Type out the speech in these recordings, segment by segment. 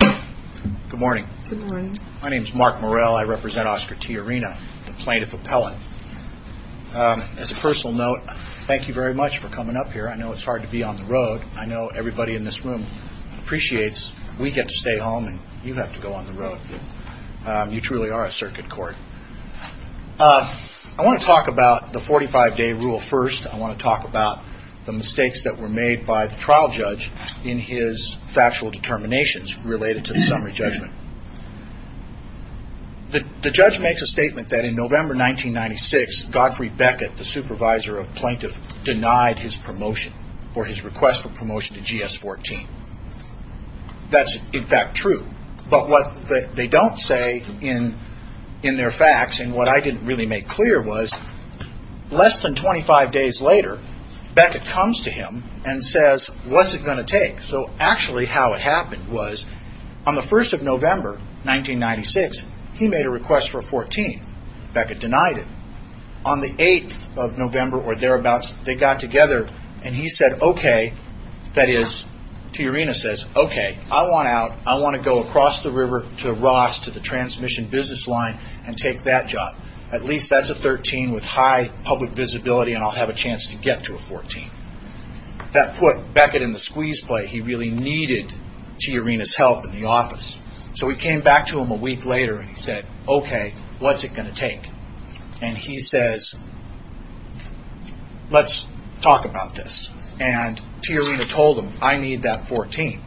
Good morning. My name is Mark Morell. I represent Oscar Tijerina, the plaintiff appellate. As a personal note, thank you very much for coming up here. I know it's hard to be on the road. I know everybody in this room appreciates we get to stay home and you have to go on the road. You truly are a circuit court. I want to talk about the 45-day rule first. I want to talk about the mistakes that were made by the trial judge in his factual determinations related to the summary judgment. The judge makes a statement that in November 1996, Godfrey Beckett, the supervisor of the plaintiff, denied his promotion or his request for promotion to GS-14. That's, in fact, true. But what they don't say in their facts and what I didn't really make clear was less than 25 days later, Beckett comes to him and says, What's it going to take? So actually how it happened was on the 1st of November 1996, he made a request for 14. Beckett denied it. On the 8th of November or thereabouts, they got together and he said, Okay, that is, Tiarina says, Okay, I want out. I want to go across the river to Ross to the transmission business line and take that job. At least that's a 13 with high public visibility and I'll have a chance to get to a 14. That put Beckett in the squeeze play. So he came back to him a week later and he said, Okay, what's it going to take? And he says, Let's talk about this. And Tiarina told him, I need that 14.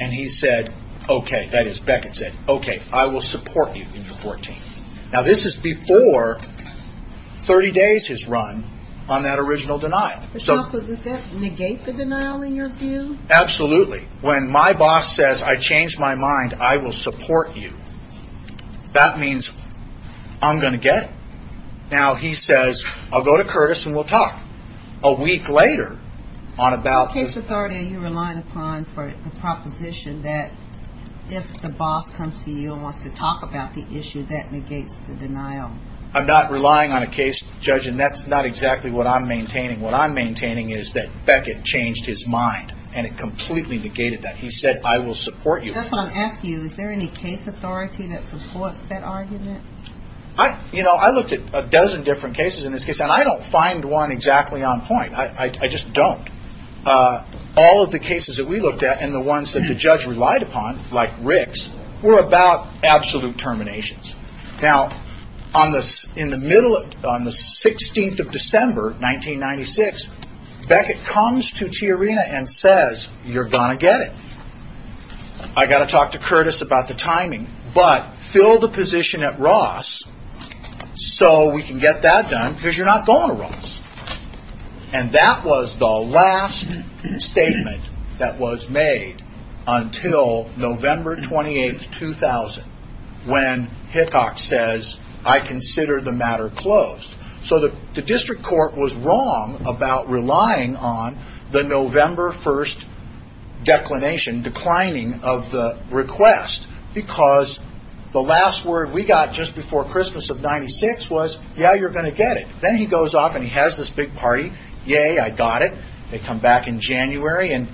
And he said, Okay, that is, Beckett said, Okay, I will support you in your 14. Now this is before 30 days has run on that original denial. So does that negate the denial in your view? Absolutely. When my boss says, I changed my mind. I will support you. That means I'm going to get it. Now he says, I'll go to Curtis and we'll talk. A week later, on about... The case authority you're relying upon for the proposition that if the boss comes to you and wants to talk about the issue, that negates the denial. I'm not relying on a case judge and that's not exactly what I'm maintaining. What I'm maintaining is that Beckett changed his mind and it completely negated that. He said, I will support you. That's what I'm asking you. Is there any case authority that supports that argument? You know, I looked at a dozen different cases in this case and I don't find one exactly on point. I just don't. All of the cases that we looked at and the ones that the judge relied upon, like Rick's, were about absolute terminations. Now, on the 16th of December, 1996, Beckett comes to Tiarina and says, you're going to get it. I've got to talk to Curtis about the timing, but fill the position at Ross so we can get that done because you're not going to Ross. And that was the last statement that was made until November 28th, 2000, when Hickok says, I consider the matter closed. So the district court was wrong about relying on the November 1st declination, declining of the request, because the last word we got just before Christmas of 1996 was, yeah, you're going to get it. Then he goes off and he has this big party. Yay, I got it. They come back in January and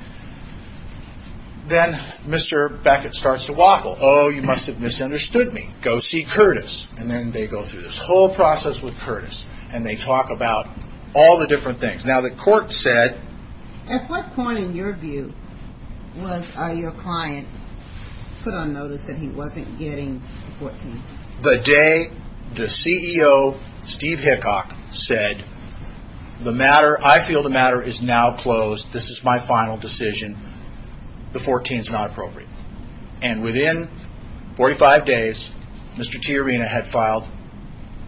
then Mr. Beckett starts to waffle. Oh, you must have misunderstood me. Go see Curtis. And then they go through this whole process with Curtis, and they talk about all the different things. Now, the court said. At what point in your view was your client put on notice that he wasn't getting 14? The day the CEO, Steve Hickok, said, I feel the matter is now closed. This is my final decision. The 14 is not appropriate. And within 45 days, Mr. Tiarina had filed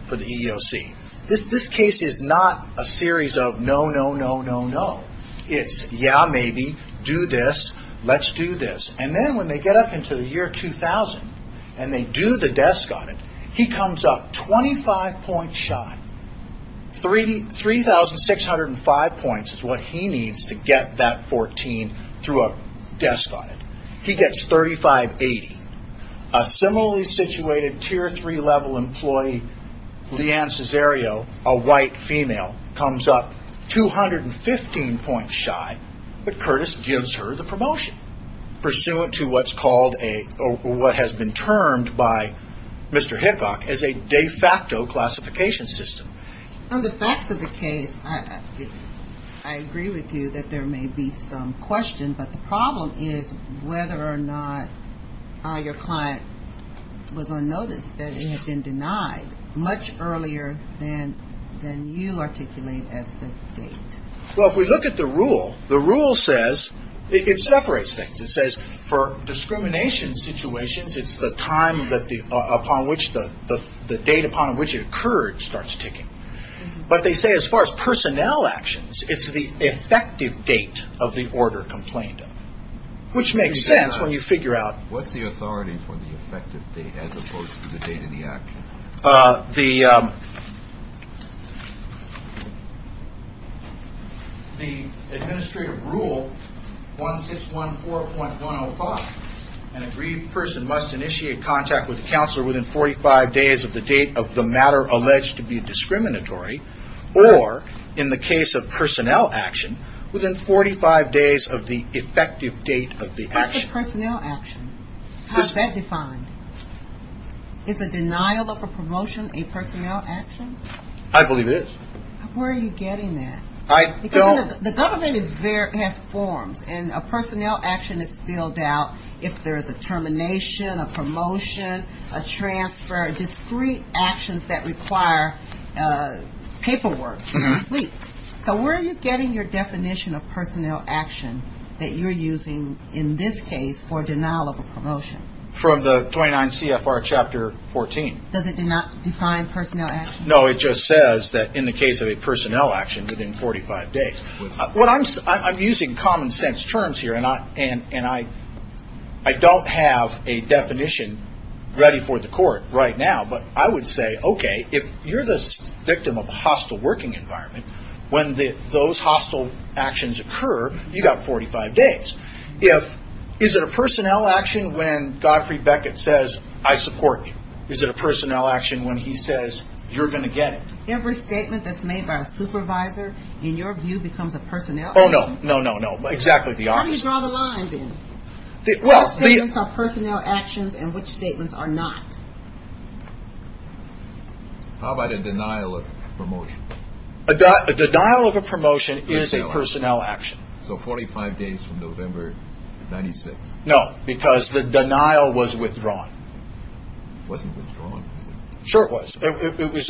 for the EEOC. This case is not a series of no, no, no, no, no. It's yeah, maybe, do this, let's do this. And then when they get up into the year 2000 and they do the desk audit, he comes up 25 points shy. 3,605 points is what he needs to get that 14 through a desk audit. He gets 3580. A similarly situated tier three level employee, Leanne Cesario, a white female, comes up 215 points shy, but Curtis gives her the promotion, pursuant to what's called a, what has been termed by Mr. Hickok as a de facto classification system. On the facts of the case, I agree with you that there may be some question, but the problem is whether or not your client was on notice that he had been denied much earlier than you articulate as the date. Well, if we look at the rule, the rule says, it separates things. It says for discrimination situations, it's the time upon which the date upon which it occurred starts ticking. But they say as far as personnel actions, it's the effective date of the order complained of, which makes sense when you figure out. What's the authority for the effective date as opposed to the date of the action? The administrative rule 1614.105, an aggrieved person must initiate contact with the counselor within 45 days of the date of the matter alleged to be discriminatory, or in the case of personnel action, within 45 days of the effective date of the action. What's a personnel action? How is that defined? Is a denial of a promotion a personnel action? I believe it is. Where are you getting that? Because the government has forms, and a personnel action is filled out if there is a termination, a promotion, a transfer, discrete actions that require paperwork. So where are you getting your definition of personnel action that you're using, in this case, for denial of a promotion? From the 29 CFR Chapter 14. Does it not define personnel action? No, it just says that in the case of a personnel action within 45 days. I'm using common sense terms here, and I don't have a definition ready for the court right now, but I would say, okay, if you're the victim of a hostile working environment, when those hostile actions occur, you've got 45 days. Is it a personnel action when Godfrey Beckett says, I support you? Is it a personnel action when he says, you're going to get it? Every statement that's made by a supervisor, in your view, becomes a personnel action. Oh, no, no, no, no, exactly the opposite. How do you draw the line, then? What statements are personnel actions, and which statements are not? How about a denial of a promotion? A denial of a promotion is a personnel action. So 45 days from November 96th. No, because the denial was withdrawn. It wasn't withdrawn, was it? Sure it was.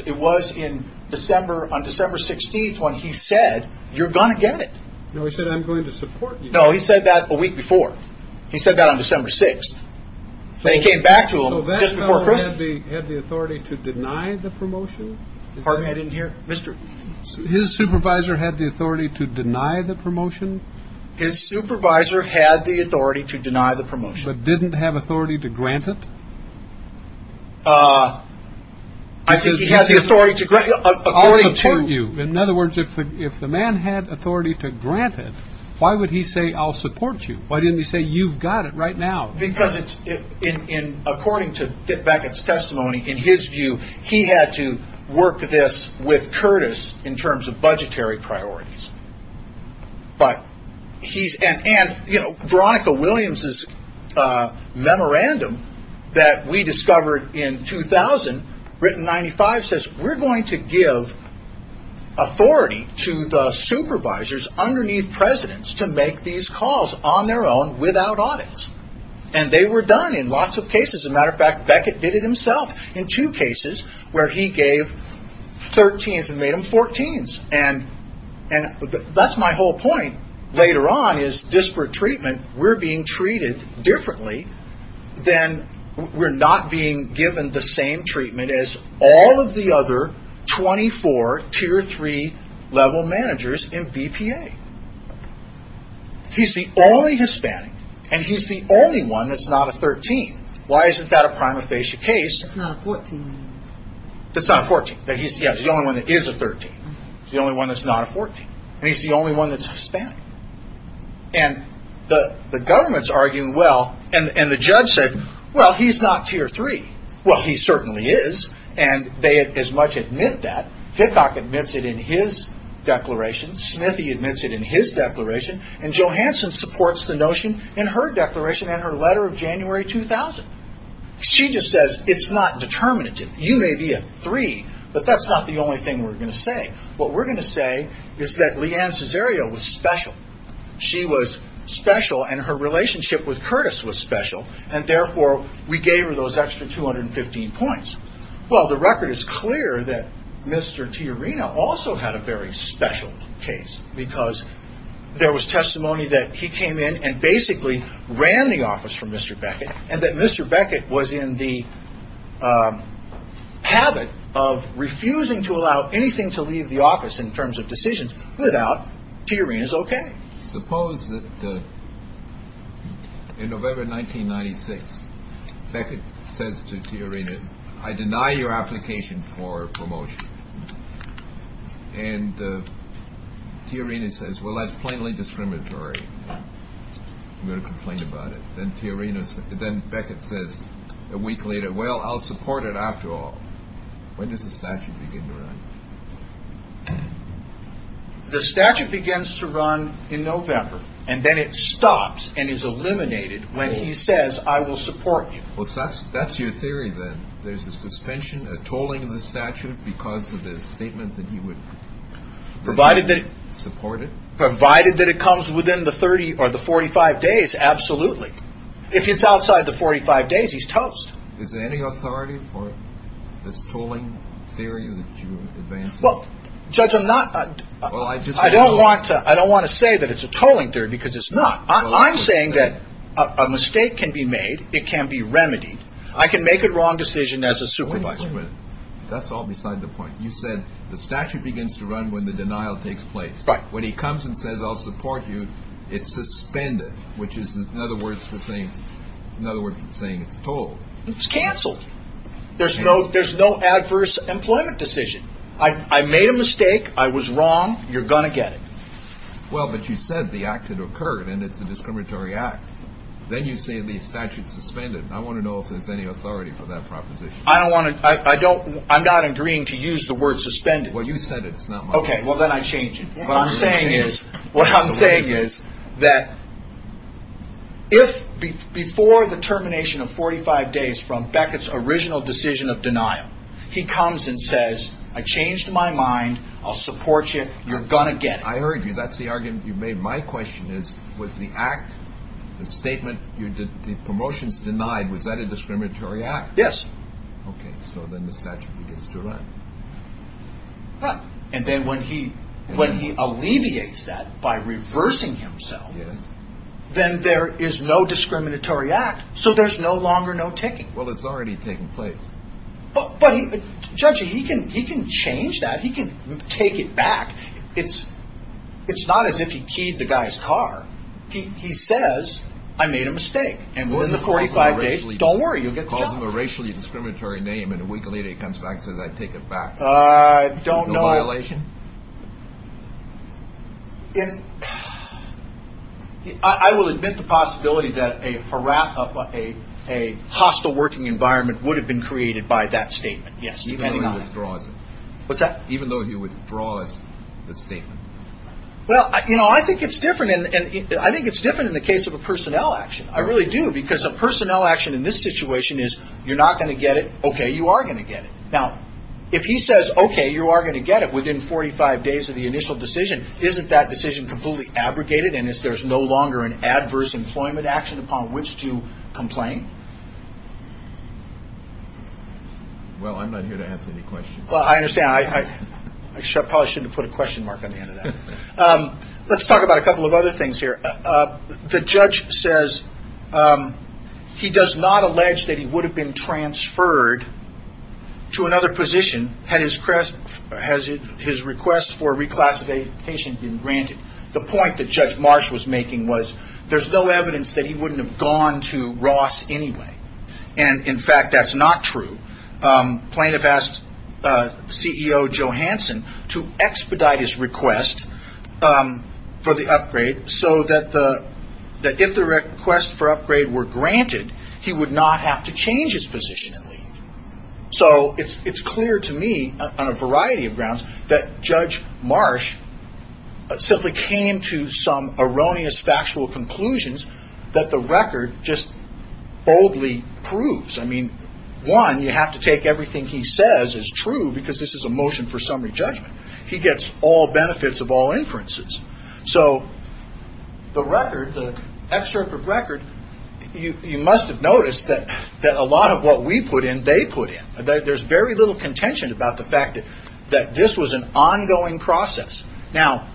It was on December 16th when he said, you're going to get it. No, he said, I'm going to support you. No, he said that a week before. He said that on December 6th. Then he came back to him just before Christmas. So that fellow had the authority to deny the promotion? Pardon me, I didn't hear. His supervisor had the authority to deny the promotion? His supervisor had the authority to deny the promotion. But didn't have authority to grant it? I think he had the authority to grant it. I'll support you. In other words, if the man had authority to grant it, why would he say, I'll support you? Why didn't he say, you've got it right now? Because according to Beckett's testimony, in his view, he had to work this with Curtis in terms of budgetary priorities. And Veronica Williams' memorandum that we discovered in 2000, written in 95, says we're going to give authority to the supervisors underneath presidents to make these calls on their own without audits. And they were done in lots of cases. As a matter of fact, Beckett did it himself in two cases where he gave 13s and made them 14s. And that's my whole point later on is disparate treatment. We're being treated differently than we're not being given the same treatment as all of the other 24 tier 3 level managers in BPA. He's the only Hispanic and he's the only one that's not a 13. Why isn't that a prima facie case? It's not a 14. Yeah, he's the only one that is a 13. He's the only one that's not a 14. And he's the only one that's Hispanic. And the government's arguing, well, and the judge said, well, he's not tier 3. Well, he certainly is. And they as much admit that. Hickok admits it in his declaration. Smithy admits it in his declaration. And Johansson supports the notion in her declaration in her letter of January 2000. She just says it's not determinative. You may be a 3, but that's not the only thing we're going to say. What we're going to say is that Leanne Cesario was special. She was special and her relationship with Curtis was special. And, therefore, we gave her those extra 215 points. Well, the record is clear that Mr. Tiarina also had a very special case because there was testimony that he came in and basically ran the office for Mr. Beckett. And that Mr. Beckett was in the habit of refusing to allow anything to leave the office in terms of decisions without Tiarina's OK. Suppose that in November 1996, Beckett says to Tiarina, I deny your application for promotion. And Tiarina says, well, that's plainly discriminatory. I'm going to complain about it. Then Tiarina, then Beckett says a week later, well, I'll support it after all. When does the statute begin to run? The statute begins to run in November and then it stops and is eliminated when he says, I will support you. Well, that's that's your theory, then there's a suspension, a tolling of the statute because of the statement that he would. Provided that it supported, provided that it comes within the 30 or the 45 days, absolutely. If it's outside the 45 days, he's toast. Is there any authority for this tolling theory? Well, judge, I'm not. I don't want to I don't want to say that it's a tolling theory because it's not. I'm saying that a mistake can be made. It can be remedied. I can make a wrong decision as a supervisor, but that's all beside the point. You said the statute begins to run when the denial takes place. But when he comes and says, I'll support you. It's suspended, which is, in other words, the same. In other words, it's saying it's told it's canceled. There's no there's no adverse employment decision. I made a mistake. I was wrong. You're going to get it. Well, but you said the act had occurred and it's a discriminatory act. Then you say the statute suspended. I want to know if there's any authority for that proposition. I don't want to I don't I'm not agreeing to use the word suspended. Well, you said it's not OK. Well, then I change it. What I'm saying is what I'm saying is that. If before the termination of 45 days from Beckett's original decision of denial, he comes and says, I changed my mind. I'll support you. You're going to get it. I heard you. That's the argument you made. My question is, was the act the statement you did the promotions denied? Was that a discriminatory act? Yes. OK, so then the statute begins to run. Right. And then when he when he alleviates that by reversing himself. Yes. Then there is no discriminatory act. So there's no longer no ticking. Well, it's already taken place. But, Judge, he can he can change that. He can take it back. It's it's not as if he keyed the guy's car. He says, I made a mistake. And within the 45 days. Don't worry, you'll get the job. Calls him a racially discriminatory name. And a week later, he comes back, says, I take it back. I don't know. No violation? I will admit the possibility that a hostile working environment would have been created by that statement. Yes. Even though he withdraws it. What's that? Even though he withdraws the statement. Well, you know, I think it's different. And I think it's different in the case of a personnel action. I really do. Because a personnel action in this situation is you're not going to get it. OK. You are going to get it. Now, if he says, OK, you are going to get it within 45 days of the initial decision. Isn't that decision completely abrogated? And if there's no longer an adverse employment action upon which to complain? Well, I'm not here to answer any questions. Well, I understand. I probably shouldn't put a question mark on the end of that. Let's talk about a couple of other things here. The judge says he does not allege that he would have been transferred to another position had his request for reclassification been granted. The point that Judge Marsh was making was there's no evidence that he wouldn't have gone to Ross anyway. And, in fact, that's not true. Plaintiff asked CEO Johansson to expedite his request for the upgrade so that if the request for upgrade were granted, he would not have to change his position. So it's clear to me on a variety of grounds that Judge Marsh simply came to some erroneous factual conclusions that the record just boldly proves. I mean, one, you have to take everything he says is true because this is a motion for summary judgment. He gets all benefits of all inferences. So the record, the F-CIRP of record, you must have noticed that a lot of what we put in, they put in. There's very little contention about the fact that this was an ongoing process. Now,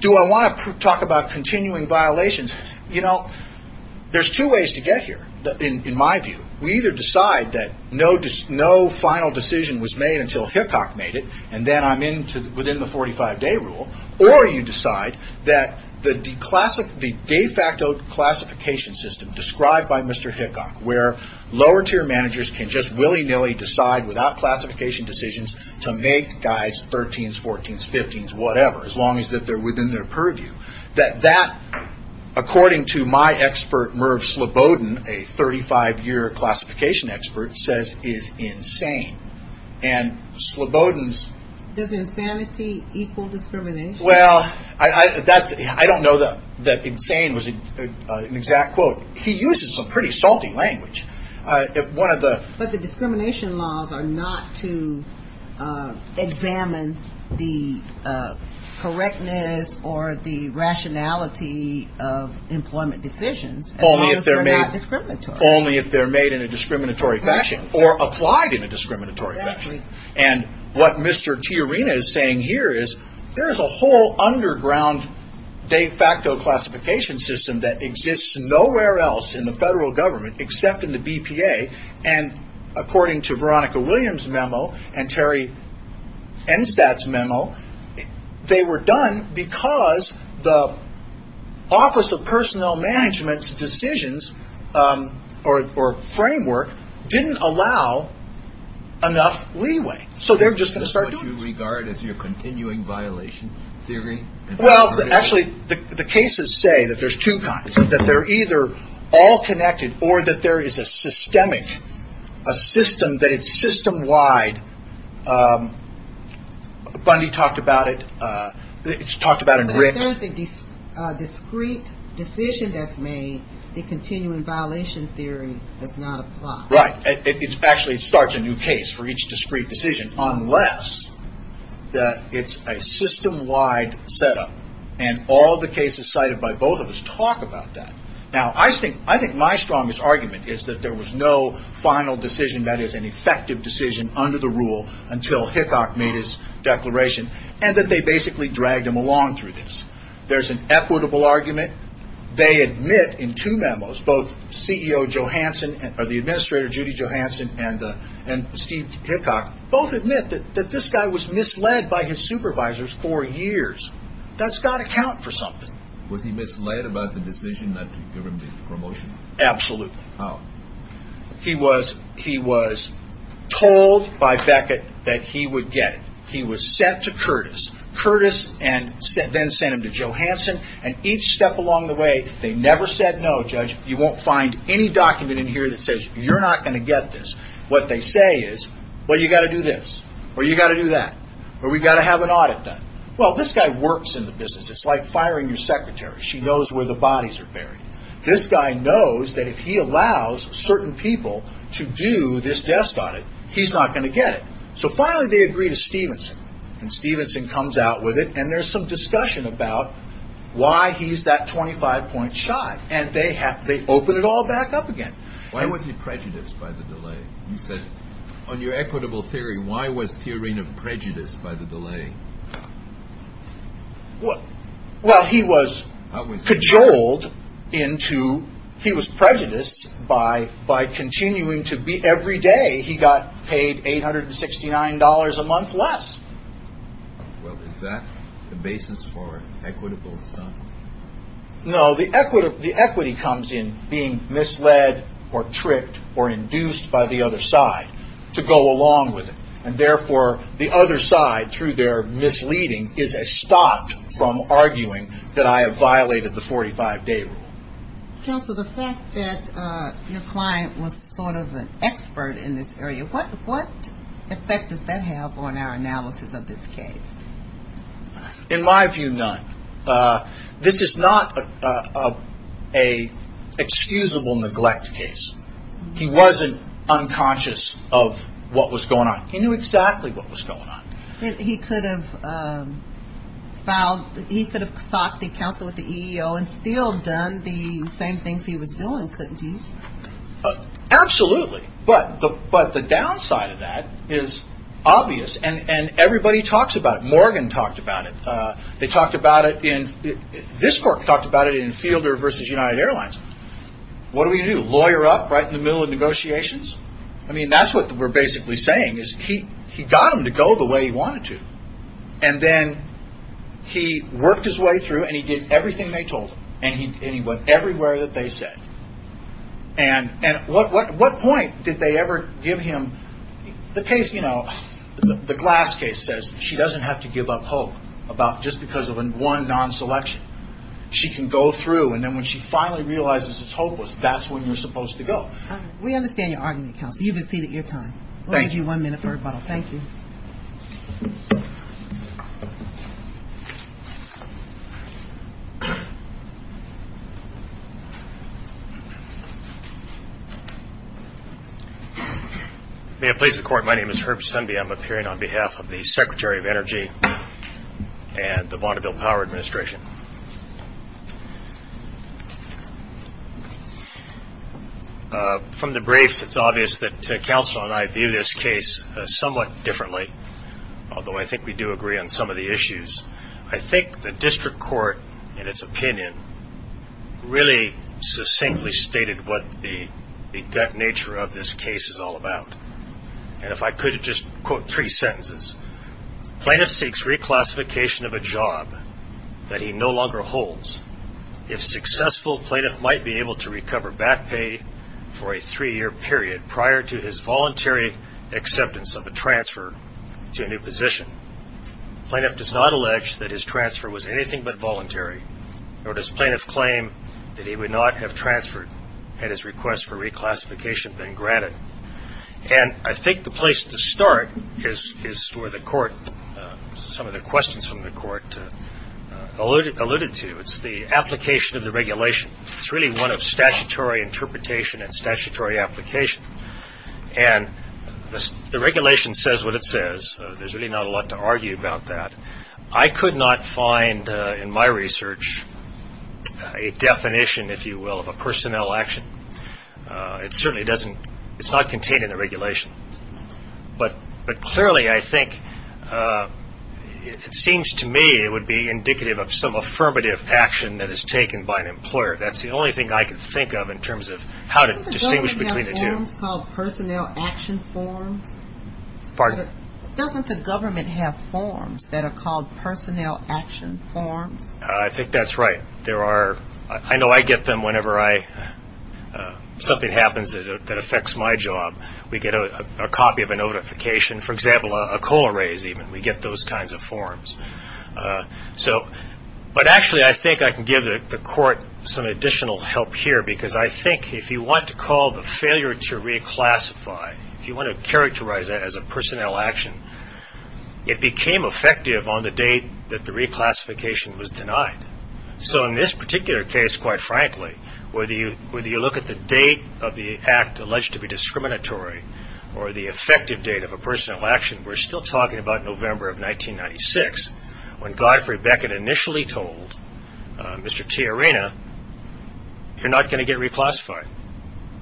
do I want to talk about continuing violations? There's two ways to get here, in my view. We either decide that no final decision was made until Hickok made it, and then I'm within the 45-day rule, or you decide that the de facto classification system described by Mr. Hickok, where lower-tier managers can just willy-nilly decide without classification decisions to make guys 13s, 14s, 15s, whatever, as long as they're within their purview, that that, according to my expert, Merv Slobodin, a 35-year classification expert, says is insane. And Slobodin's — Does insanity equal discrimination? Well, I don't know that insane was an exact quote. He uses some pretty salty language. But the discrimination laws are not to examine the correctness or the rationality of employment decisions, as long as they're not discriminatory. Only if they're made in a discriminatory fashion, or applied in a discriminatory fashion. Exactly. And what Mr. Tiarina is saying here is there's a whole underground de facto classification system that exists nowhere else in the federal government except in the BPA, and according to Veronica Williams' memo and Terry Enstadt's memo, they were done because the Office of Personnel Management's decisions or framework didn't allow enough leeway. So they're just going to start doing it. Is that what you regard as your continuing violation theory? Well, actually, the cases say that there's two kinds, that they're either all connected or that there is a systemic, a system that is system-wide. Bundy talked about it. It's talked about in Ricks. If there's a discrete decision that's made, the continuing violation theory does not apply. Right. Actually, it starts a new case for each discrete decision, unless it's a system-wide setup, and all the cases cited by both of us talk about that. Now, I think my strongest argument is that there was no final decision that is an effective decision under the rule until Hickok made his declaration, and that they basically dragged him along through this. There's an equitable argument. They admit in two memos, both CEO Johansson, or the administrator, Judy Johansson, and Steve Hickok, both admit that this guy was misled by his supervisors for years. That's got to count for something. Was he misled about the decision not to give him the promotion? Absolutely. How? He was told by Beckett that he would get it. He was sent to Curtis. Then sent him to Johansson, and each step along the way, they never said no, judge. You won't find any document in here that says you're not going to get this. What they say is, well, you've got to do this, or you've got to do that, or we've got to have an audit done. Well, this guy works in the business. It's like firing your secretary. She knows where the bodies are buried. This guy knows that if he allows certain people to do this desk audit, he's not going to get it. So finally they agree to Stevenson, and Stevenson comes out with it, and there's some discussion about why he's that 25-point shot, and they open it all back up again. Why was he prejudiced by the delay? You said on your equitable theory, why was Therena prejudiced by the delay? Well, he was cajoled into, he was prejudiced by continuing to be, every day he got paid $869 a month less. Well, is that the basis for equitable stuff? No, the equity comes in being misled or tricked or induced by the other side to go along with it, and therefore the other side, through their misleading, is a stop from arguing that I have violated the 45-day rule. Counsel, the fact that your client was sort of an expert in this area, what effect does that have on our analysis of this case? In my view, none. This is not an excusable neglect case. He wasn't unconscious of what was going on. He knew exactly what was going on. He could have filed, he could have sought the counsel with the EEO and still done the same things he was doing, couldn't he? Absolutely, but the downside of that is obvious, and everybody talks about it. Morgan talked about it. They talked about it in, this court talked about it in Fielder versus United Airlines. I mean, that's what we're basically saying is he got them to go the way he wanted to, and then he worked his way through and he did everything they told him, and he went everywhere that they said. And what point did they ever give him? The case, you know, the Glass case says she doesn't have to give up hope just because of one non-selection. She can go through, and then when she finally realizes it's hopeless, that's when you're supposed to go. We understand your argument, counsel. You've exceeded your time. We'll give you one minute for rebuttal. Thank you. May it please the Court, my name is Herb Sundby. I'm appearing on behalf of the Secretary of Energy and the Vaudeville Power Administration. From the briefs, it's obvious that counsel and I view this case somewhat differently, although I think we do agree on some of the issues. I think the district court, in its opinion, really succinctly stated what the nature of this case is all about. And if I could just quote three sentences. Plaintiff seeks reclassification of a job that he no longer holds. If successful, plaintiff might be able to recover back pay for a three-year period prior to his voluntary acceptance of a transfer to a new position. Plaintiff does not allege that his transfer was anything but voluntary, nor does plaintiff claim that he would not have transferred had his request for reclassification been granted. And I think the place to start is where the Court, some of the questions from the Court alluded to. It's the application of the regulation. It's really one of statutory interpretation and statutory application. And the regulation says what it says. There's really not a lot to argue about that. I could not find in my research a definition, if you will, of a personnel action. It certainly doesn't. It's not contained in the regulation. But clearly, I think, it seems to me it would be indicative of some affirmative action that is taken by an employer. That's the only thing I could think of in terms of how to distinguish between the two. Doesn't the government have forms called personnel action forms? Pardon? Doesn't the government have forms that are called personnel action forms? I think that's right. I know I get them whenever something happens that affects my job. We get a copy of a notification, for example, a coal raise even. We get those kinds of forms. But actually, I think I can give the Court some additional help here, because I think if you want to call the failure to reclassify, if you want to characterize that as a personnel action, it became effective on the date that the reclassification was denied. So in this particular case, quite frankly, whether you look at the date of the act alleged to be discriminatory or the effective date of a personnel action, we're still talking about November of 1996, when Godfrey Beckett initially told Mr. T. Arena, you're not going to get reclassified.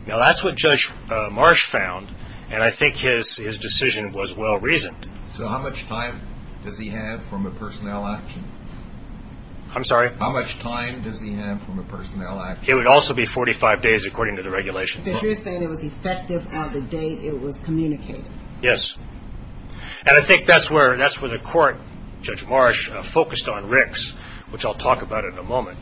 Now, that's what Judge Marsh found, and I think his decision was well-reasoned. So how much time does he have from a personnel action? I'm sorry? How much time does he have from a personnel action? It would also be 45 days, according to the regulations. Because you're saying it was effective on the date it was communicated. Yes. And I think that's where the Court, Judge Marsh, focused on Rick's, which I'll talk about in a moment.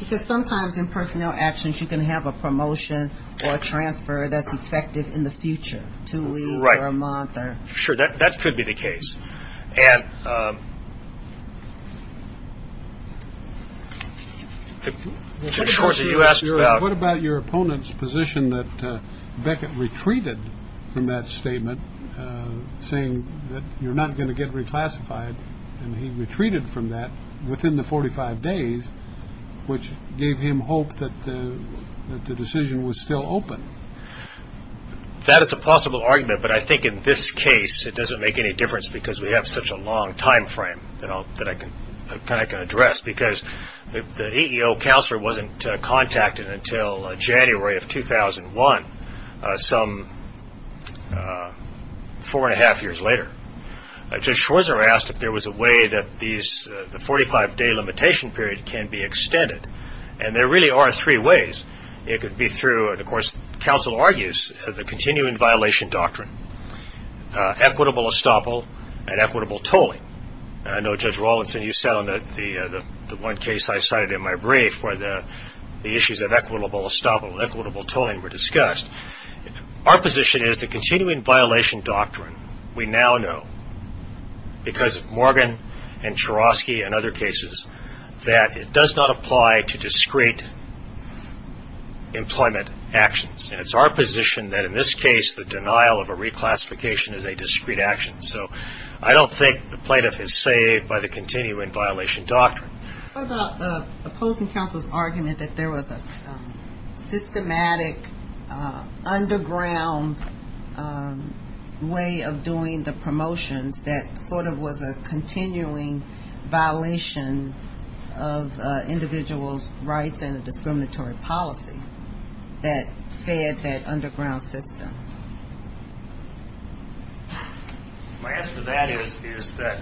Because sometimes in personnel actions you can have a promotion or a transfer that's effective in the future, two weeks or a month. Right. Sure, that could be the case. What about your opponent's position that Beckett retreated from that statement, saying that you're not going to get reclassified, and he retreated from that within the 45 days, which gave him hope that the decision was still open? That is a possible argument, but I think in this case it doesn't make any difference because we have such a long time frame that I can address. The EEO counselor wasn't contacted until January of 2001, some four-and-a-half years later. Judge Schwarzer asked if there was a way that the 45-day limitation period can be extended. And there really are three ways. It could be through, and of course counsel argues, the continuing violation doctrine, equitable estoppel, and equitable tolling. I know, Judge Rawlinson, you said on the one case I cited in my brief where the issues of equitable estoppel and equitable tolling were discussed. Our position is the continuing violation doctrine, we now know, because of Morgan and Chorosky and other cases, that it does not apply to discrete employment actions. And it's our position that in this case the denial of a reclassification is a discrete action. So I don't think the plaintiff is saved by the continuing violation doctrine. What about opposing counsel's argument that there was a systematic underground way of doing the promotions that sort of was a continuing violation of individuals' rights and a discriminatory policy that fed that underground system? My answer to that is that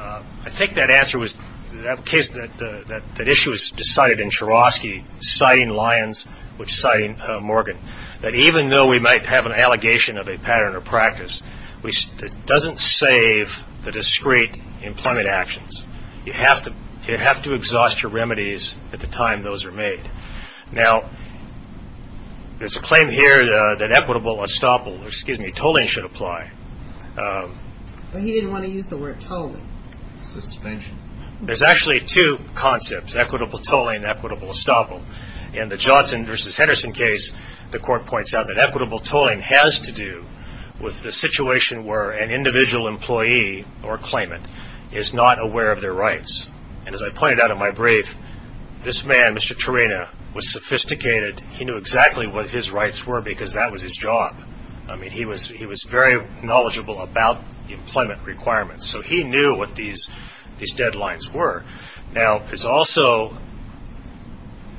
I think that answer was that issue was decided in Chorosky citing Lyons, which citing Morgan. That even though we might have an allegation of a pattern or practice, it doesn't save the discrete employment actions. You have to exhaust your remedies at the time those are made. Now, there's a claim here that equitable estoppel, excuse me, tolling should apply. But he didn't want to use the word tolling. Suspension. There's actually two concepts, equitable tolling and equitable estoppel. In the Johnson v. Henderson case, the court points out that equitable tolling has to do with the situation where an individual employee or claimant is not aware of their rights. And as I pointed out in my brief, this man, Mr. Terena, was sophisticated. He knew exactly what his rights were because that was his job. I mean, he was very knowledgeable about employment requirements. So he knew what these deadlines were. Now, there's also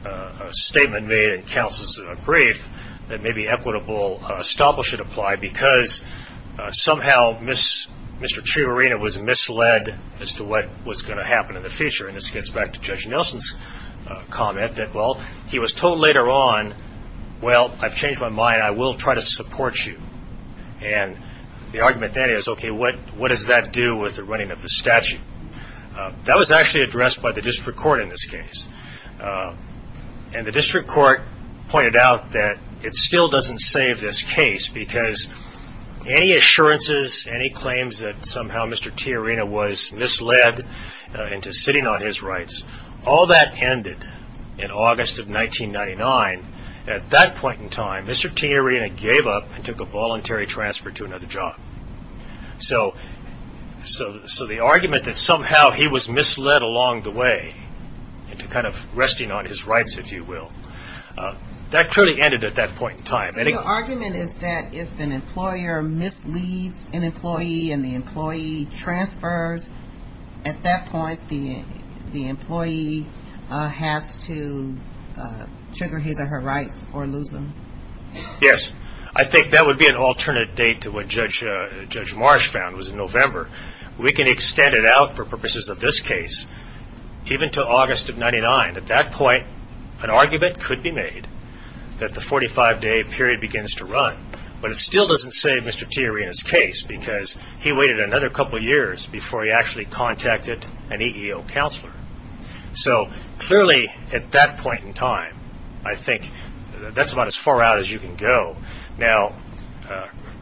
a statement made in counsel's brief that maybe equitable estoppel should apply because somehow Mr. Terena was misled as to what was going to happen in the future. And this gets back to Judge Nelson's comment that, well, he was told later on, well, I've changed my mind. I will try to support you. And the argument then is, okay, what does that do with the running of the statute? That was actually addressed by the district court in this case. And the district court pointed out that it still doesn't save this case because any assurances, any claims that somehow Mr. Terena was misled into sitting on his rights, all that ended in August of 1999. At that point in time, Mr. Terena gave up and took a voluntary transfer to another job. So the argument that somehow he was misled along the way into kind of resting on his rights, if you will, that truly ended at that point in time. So your argument is that if an employer misleads an employee and the employee transfers, at that point the employee has to trigger his or her rights or lose them? Yes. I think that would be an alternate date to what Judge Marsh found was in November. We can extend it out for purposes of this case even to August of 1999. At that point, an argument could be made that the 45-day period begins to run, but it still doesn't save Mr. Terena's case because he waited another couple of years before he actually contacted an EEO counselor. So clearly at that point in time, I think that's about as far out as you can go. Now,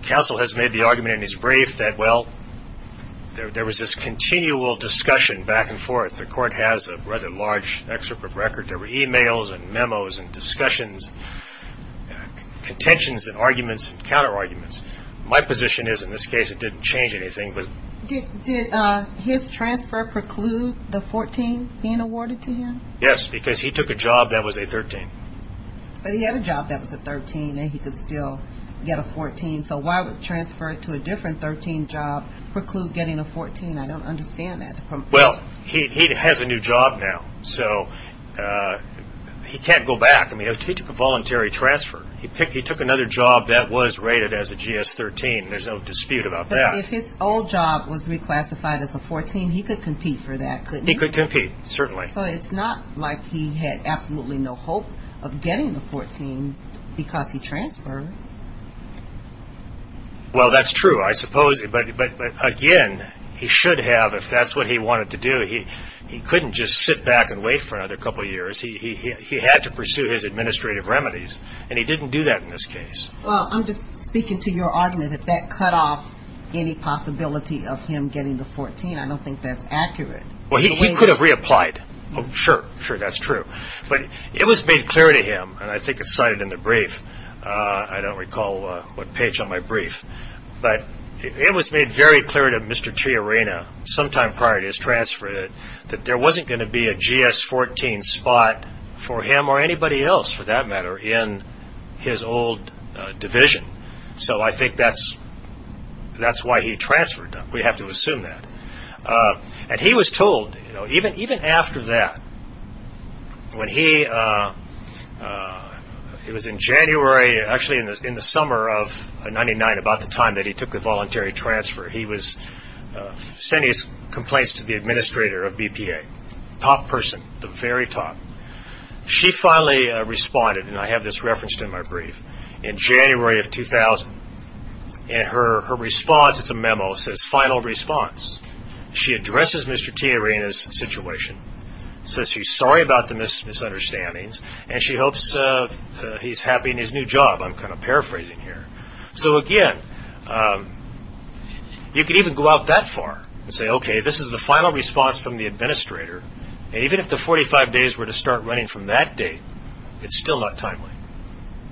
counsel has made the argument in his brief that, well, there was this continual discussion back and forth. The Court has a rather large excerpt of record. There were e-mails and memos and discussions, contentions and arguments and counterarguments. My position is in this case it didn't change anything. Did his transfer preclude the 14 being awarded to him? Yes, because he took a job that was a 13. But he had a job that was a 13 and he could still get a 14, so why would transfer to a different 13 job preclude getting a 14? I don't understand that. Well, he has a new job now, so he can't go back. He took a voluntary transfer. He took another job that was rated as a GS-13. There's no dispute about that. If his old job was reclassified as a 14, he could compete for that, couldn't he? He could compete, certainly. So it's not like he had absolutely no hope of getting the 14 because he transferred. Well, that's true, I suppose. But, again, he should have if that's what he wanted to do. He couldn't just sit back and wait for another couple of years. He had to pursue his administrative remedies, and he didn't do that in this case. Well, I'm just speaking to your argument that that cut off any possibility of him getting the 14. I don't think that's accurate. Well, he could have reapplied. Sure, sure, that's true. But it was made clear to him, and I think it's cited in the brief. I don't recall what page on my brief. But it was made very clear to Mr. Tiarena sometime prior to his transfer that there wasn't going to be a GS-14 spot for him or anybody else, for that matter, in his old division. So I think that's why he transferred. We have to assume that. And he was told, even after that, when he was in January, actually in the summer of 1999, about the time that he took the voluntary transfer, he was sending his complaints to the administrator of BPA, top person, the very top. She finally responded, and I have this referenced in my brief, in January of 2000. And her response, it's a memo, says, final response. She addresses Mr. Tiarena's situation, says she's sorry about the misunderstandings, and she hopes he's happy in his new job. I'm kind of paraphrasing here. So, again, you could even go out that far and say, okay, this is the final response from the administrator, and even if the 45 days were to start running from that date, it's still not timely.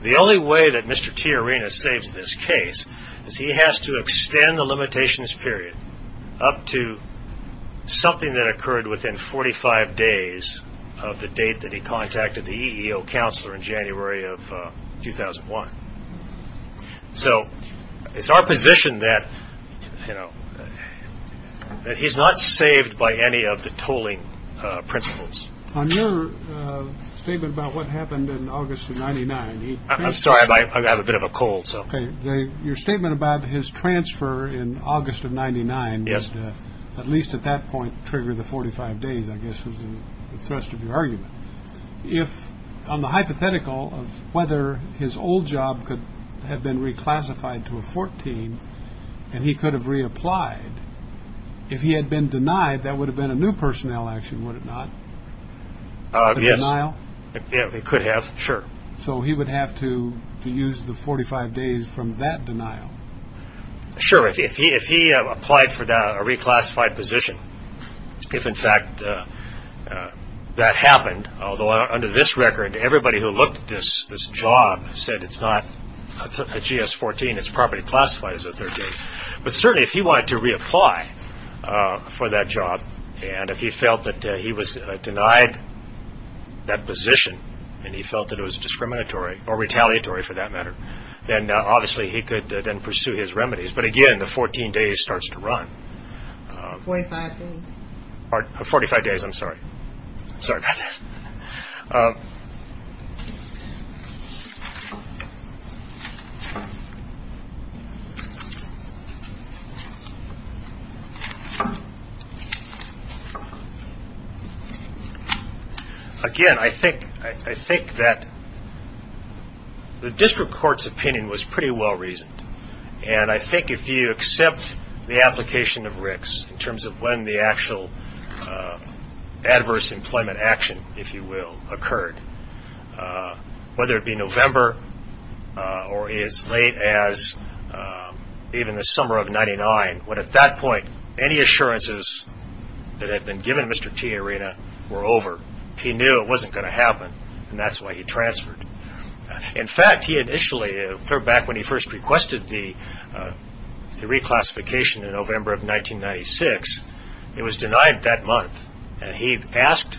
The only way that Mr. Tiarena saves this case is he has to extend the limitations period up to something that occurred within 45 days of the date that he contacted the EEO counselor in January of 2001. So it's our position that he's not saved by any of the tolling principles. On your statement about what happened in August of 99. I'm sorry, I have a bit of a cold. Your statement about his transfer in August of 99, at least at that point, triggered the 45 days, I guess, was the thrust of your argument. On the hypothetical of whether his old job could have been reclassified to a 14 and he could have reapplied, if he had been denied, that would have been a new personnel action, would it not? Yes, it could have, sure. So he would have to use the 45 days from that denial? Sure, if he applied for a reclassified position, if, in fact, that happened, although under this record, everybody who looked at this job said it's not a GS-14, it's properly classified as a 13, but certainly if he wanted to reapply for that job and if he felt that he was denied that position and he felt that it was discriminatory or retaliatory, for that matter, then obviously he could then pursue his remedies. But, again, the 14 days starts to run. 45 days. 45 days, I'm sorry. Sorry about that. Again, I think that the district court's opinion was pretty well reasoned, and I think if you accept the application of Ricks in terms of when the actual adverse employment action, if you will, occurred, whether it be November or as late as even the summer of 1999, when at that point any assurances that had been given Mr. T. Arena were over, he knew it wasn't going to happen, and that's why he transferred. In fact, he initially, clear back when he first requested the reclassification in November of 1996, it was denied that month, and he asked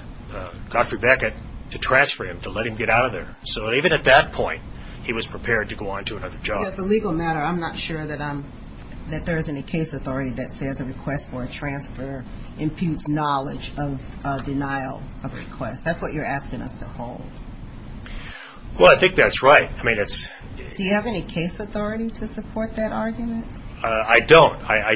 Dr. Beckett to transfer him, to let him get out of there. So even at that point, he was prepared to go on to another job. That's a legal matter. I'm not sure that there's any case authority that says a request for a transfer imputes knowledge of denial of request. That's what you're asking us to hold. Well, I think that's right. Do you have any case authority to support that argument? I don't. I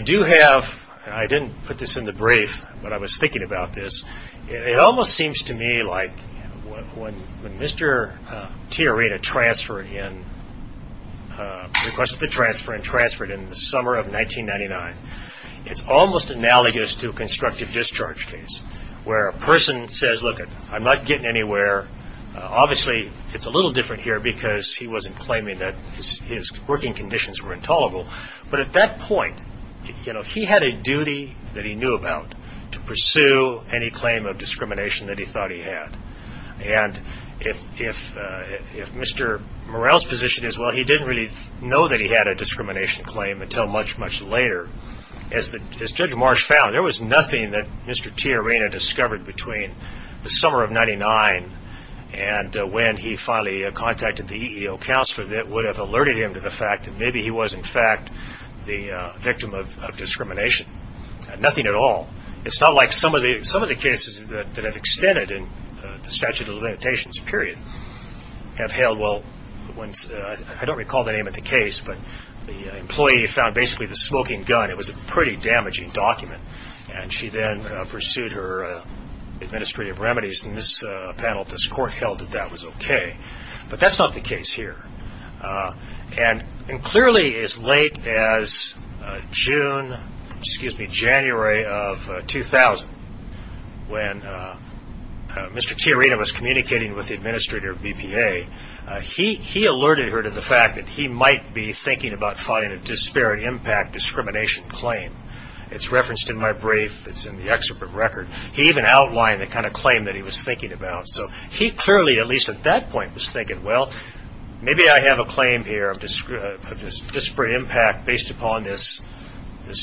didn't put this in the brief, but I was thinking about this. It almost seems to me like when Mr. T. Arena requested the transfer and transferred in the summer of 1999, it's almost analogous to a constructive discharge case where a person says, look, I'm not getting anywhere. Obviously, it's a little different here because he wasn't claiming that his working conditions were intolerable, but at that point, he had a duty that he knew about to pursue any claim of discrimination that he thought he had. And if Mr. Morrell's position is, well, he didn't really know that he had a discrimination claim until much, much later, as Judge Marsh found, there was nothing that Mr. T. Arena discovered between the summer of 1999 and when he finally contacted the EEO counselor that would have alerted him to the fact that maybe he was, in fact, the victim of discrimination. Nothing at all. It's not like some of the cases that have extended in the statute of limitations period have held well. I don't recall the name of the case, but the employee found basically the smoking gun. It was a pretty damaging document, and she then pursued her administrative remedies. In this panel, this court held that that was okay, but that's not the case here. And clearly, as late as June, excuse me, January of 2000, when Mr. T. Arena was communicating with the administrator of BPA, he alerted her to the fact that he might be thinking about filing a disparate impact discrimination claim. It's referenced in my brief. It's in the excerpt of the record. He even outlined the kind of claim that he was thinking about, so he clearly, at least at that point, was thinking, well, maybe I have a claim here of disparate impact based upon this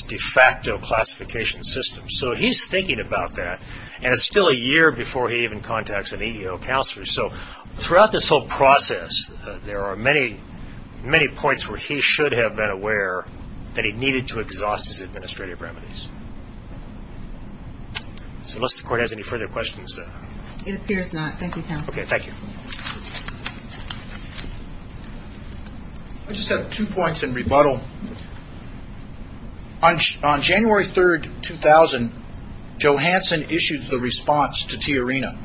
de facto classification system. So he's thinking about that, and it's still a year before he even contacts an EEO counselor. So throughout this whole process, there are many, many points where he should have been aware that he needed to exhaust his administrative remedies. So unless the court has any further questions. It appears not. Thank you, counsel. Okay, thank you. I just have two points in rebuttal. On January 3rd, 2000, Johansson issued the response to T. Arena.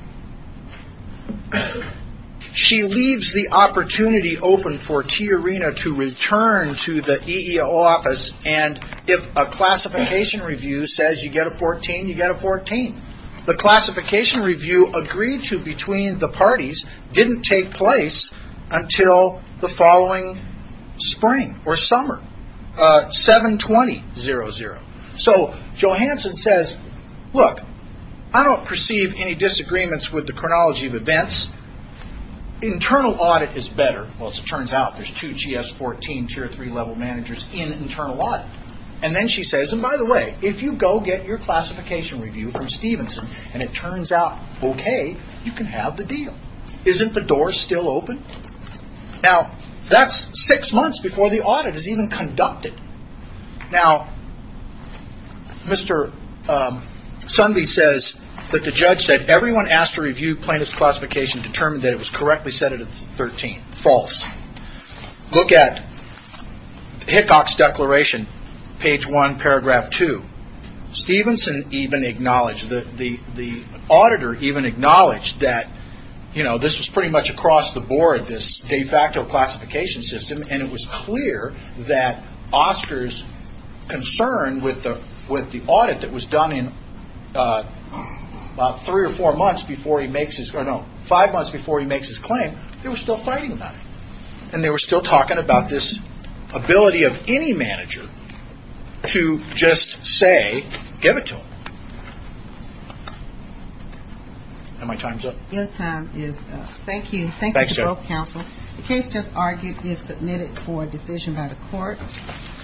She leaves the opportunity open for T. Arena to return to the EEO office, and if a classification review says you get a 14, you get a 14. The classification review agreed to between the parties didn't take place until the following spring or summer, 7-20-00. So Johansson says, look, I don't perceive any disagreements with the chronology of events. Internal audit is better. Well, as it turns out, there's two GS-14 tier three level managers in internal audit. And then she says, and by the way, if you go get your classification review from Stevenson, and it turns out okay, you can have the deal. Isn't the door still open? Now, that's six months before the audit is even conducted. Now, Mr. Sundby says that the judge said everyone asked to review plaintiff's classification determined that it was correctly set at a 13. False. Look at Hickok's declaration, page one, paragraph two. Stevenson even acknowledged, the auditor even acknowledged that this was pretty much across the board, this de facto classification system, and it was clear that Oscar's concern with the audit that was done in about three or four months before he makes his, or no, five months before he makes his claim, they were still fighting about it. And they were still talking about this ability of any manager to just say, give it to him. Are my times up? Your time is up. Thank you. Thank you to both counsel. The case just argued is submitted for a decision by the court.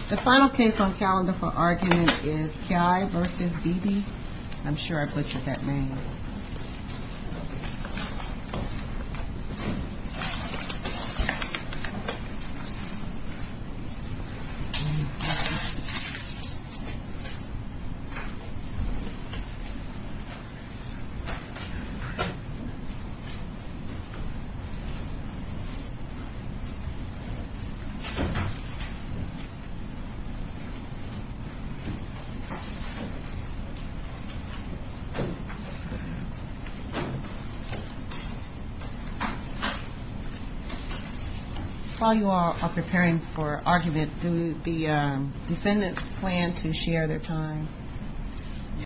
The final case on calendar for argument is Ki vs. Beebe. I'm sure I butchered that name. Thank you. While you all are preparing for argument, do the defendants plan to share their time?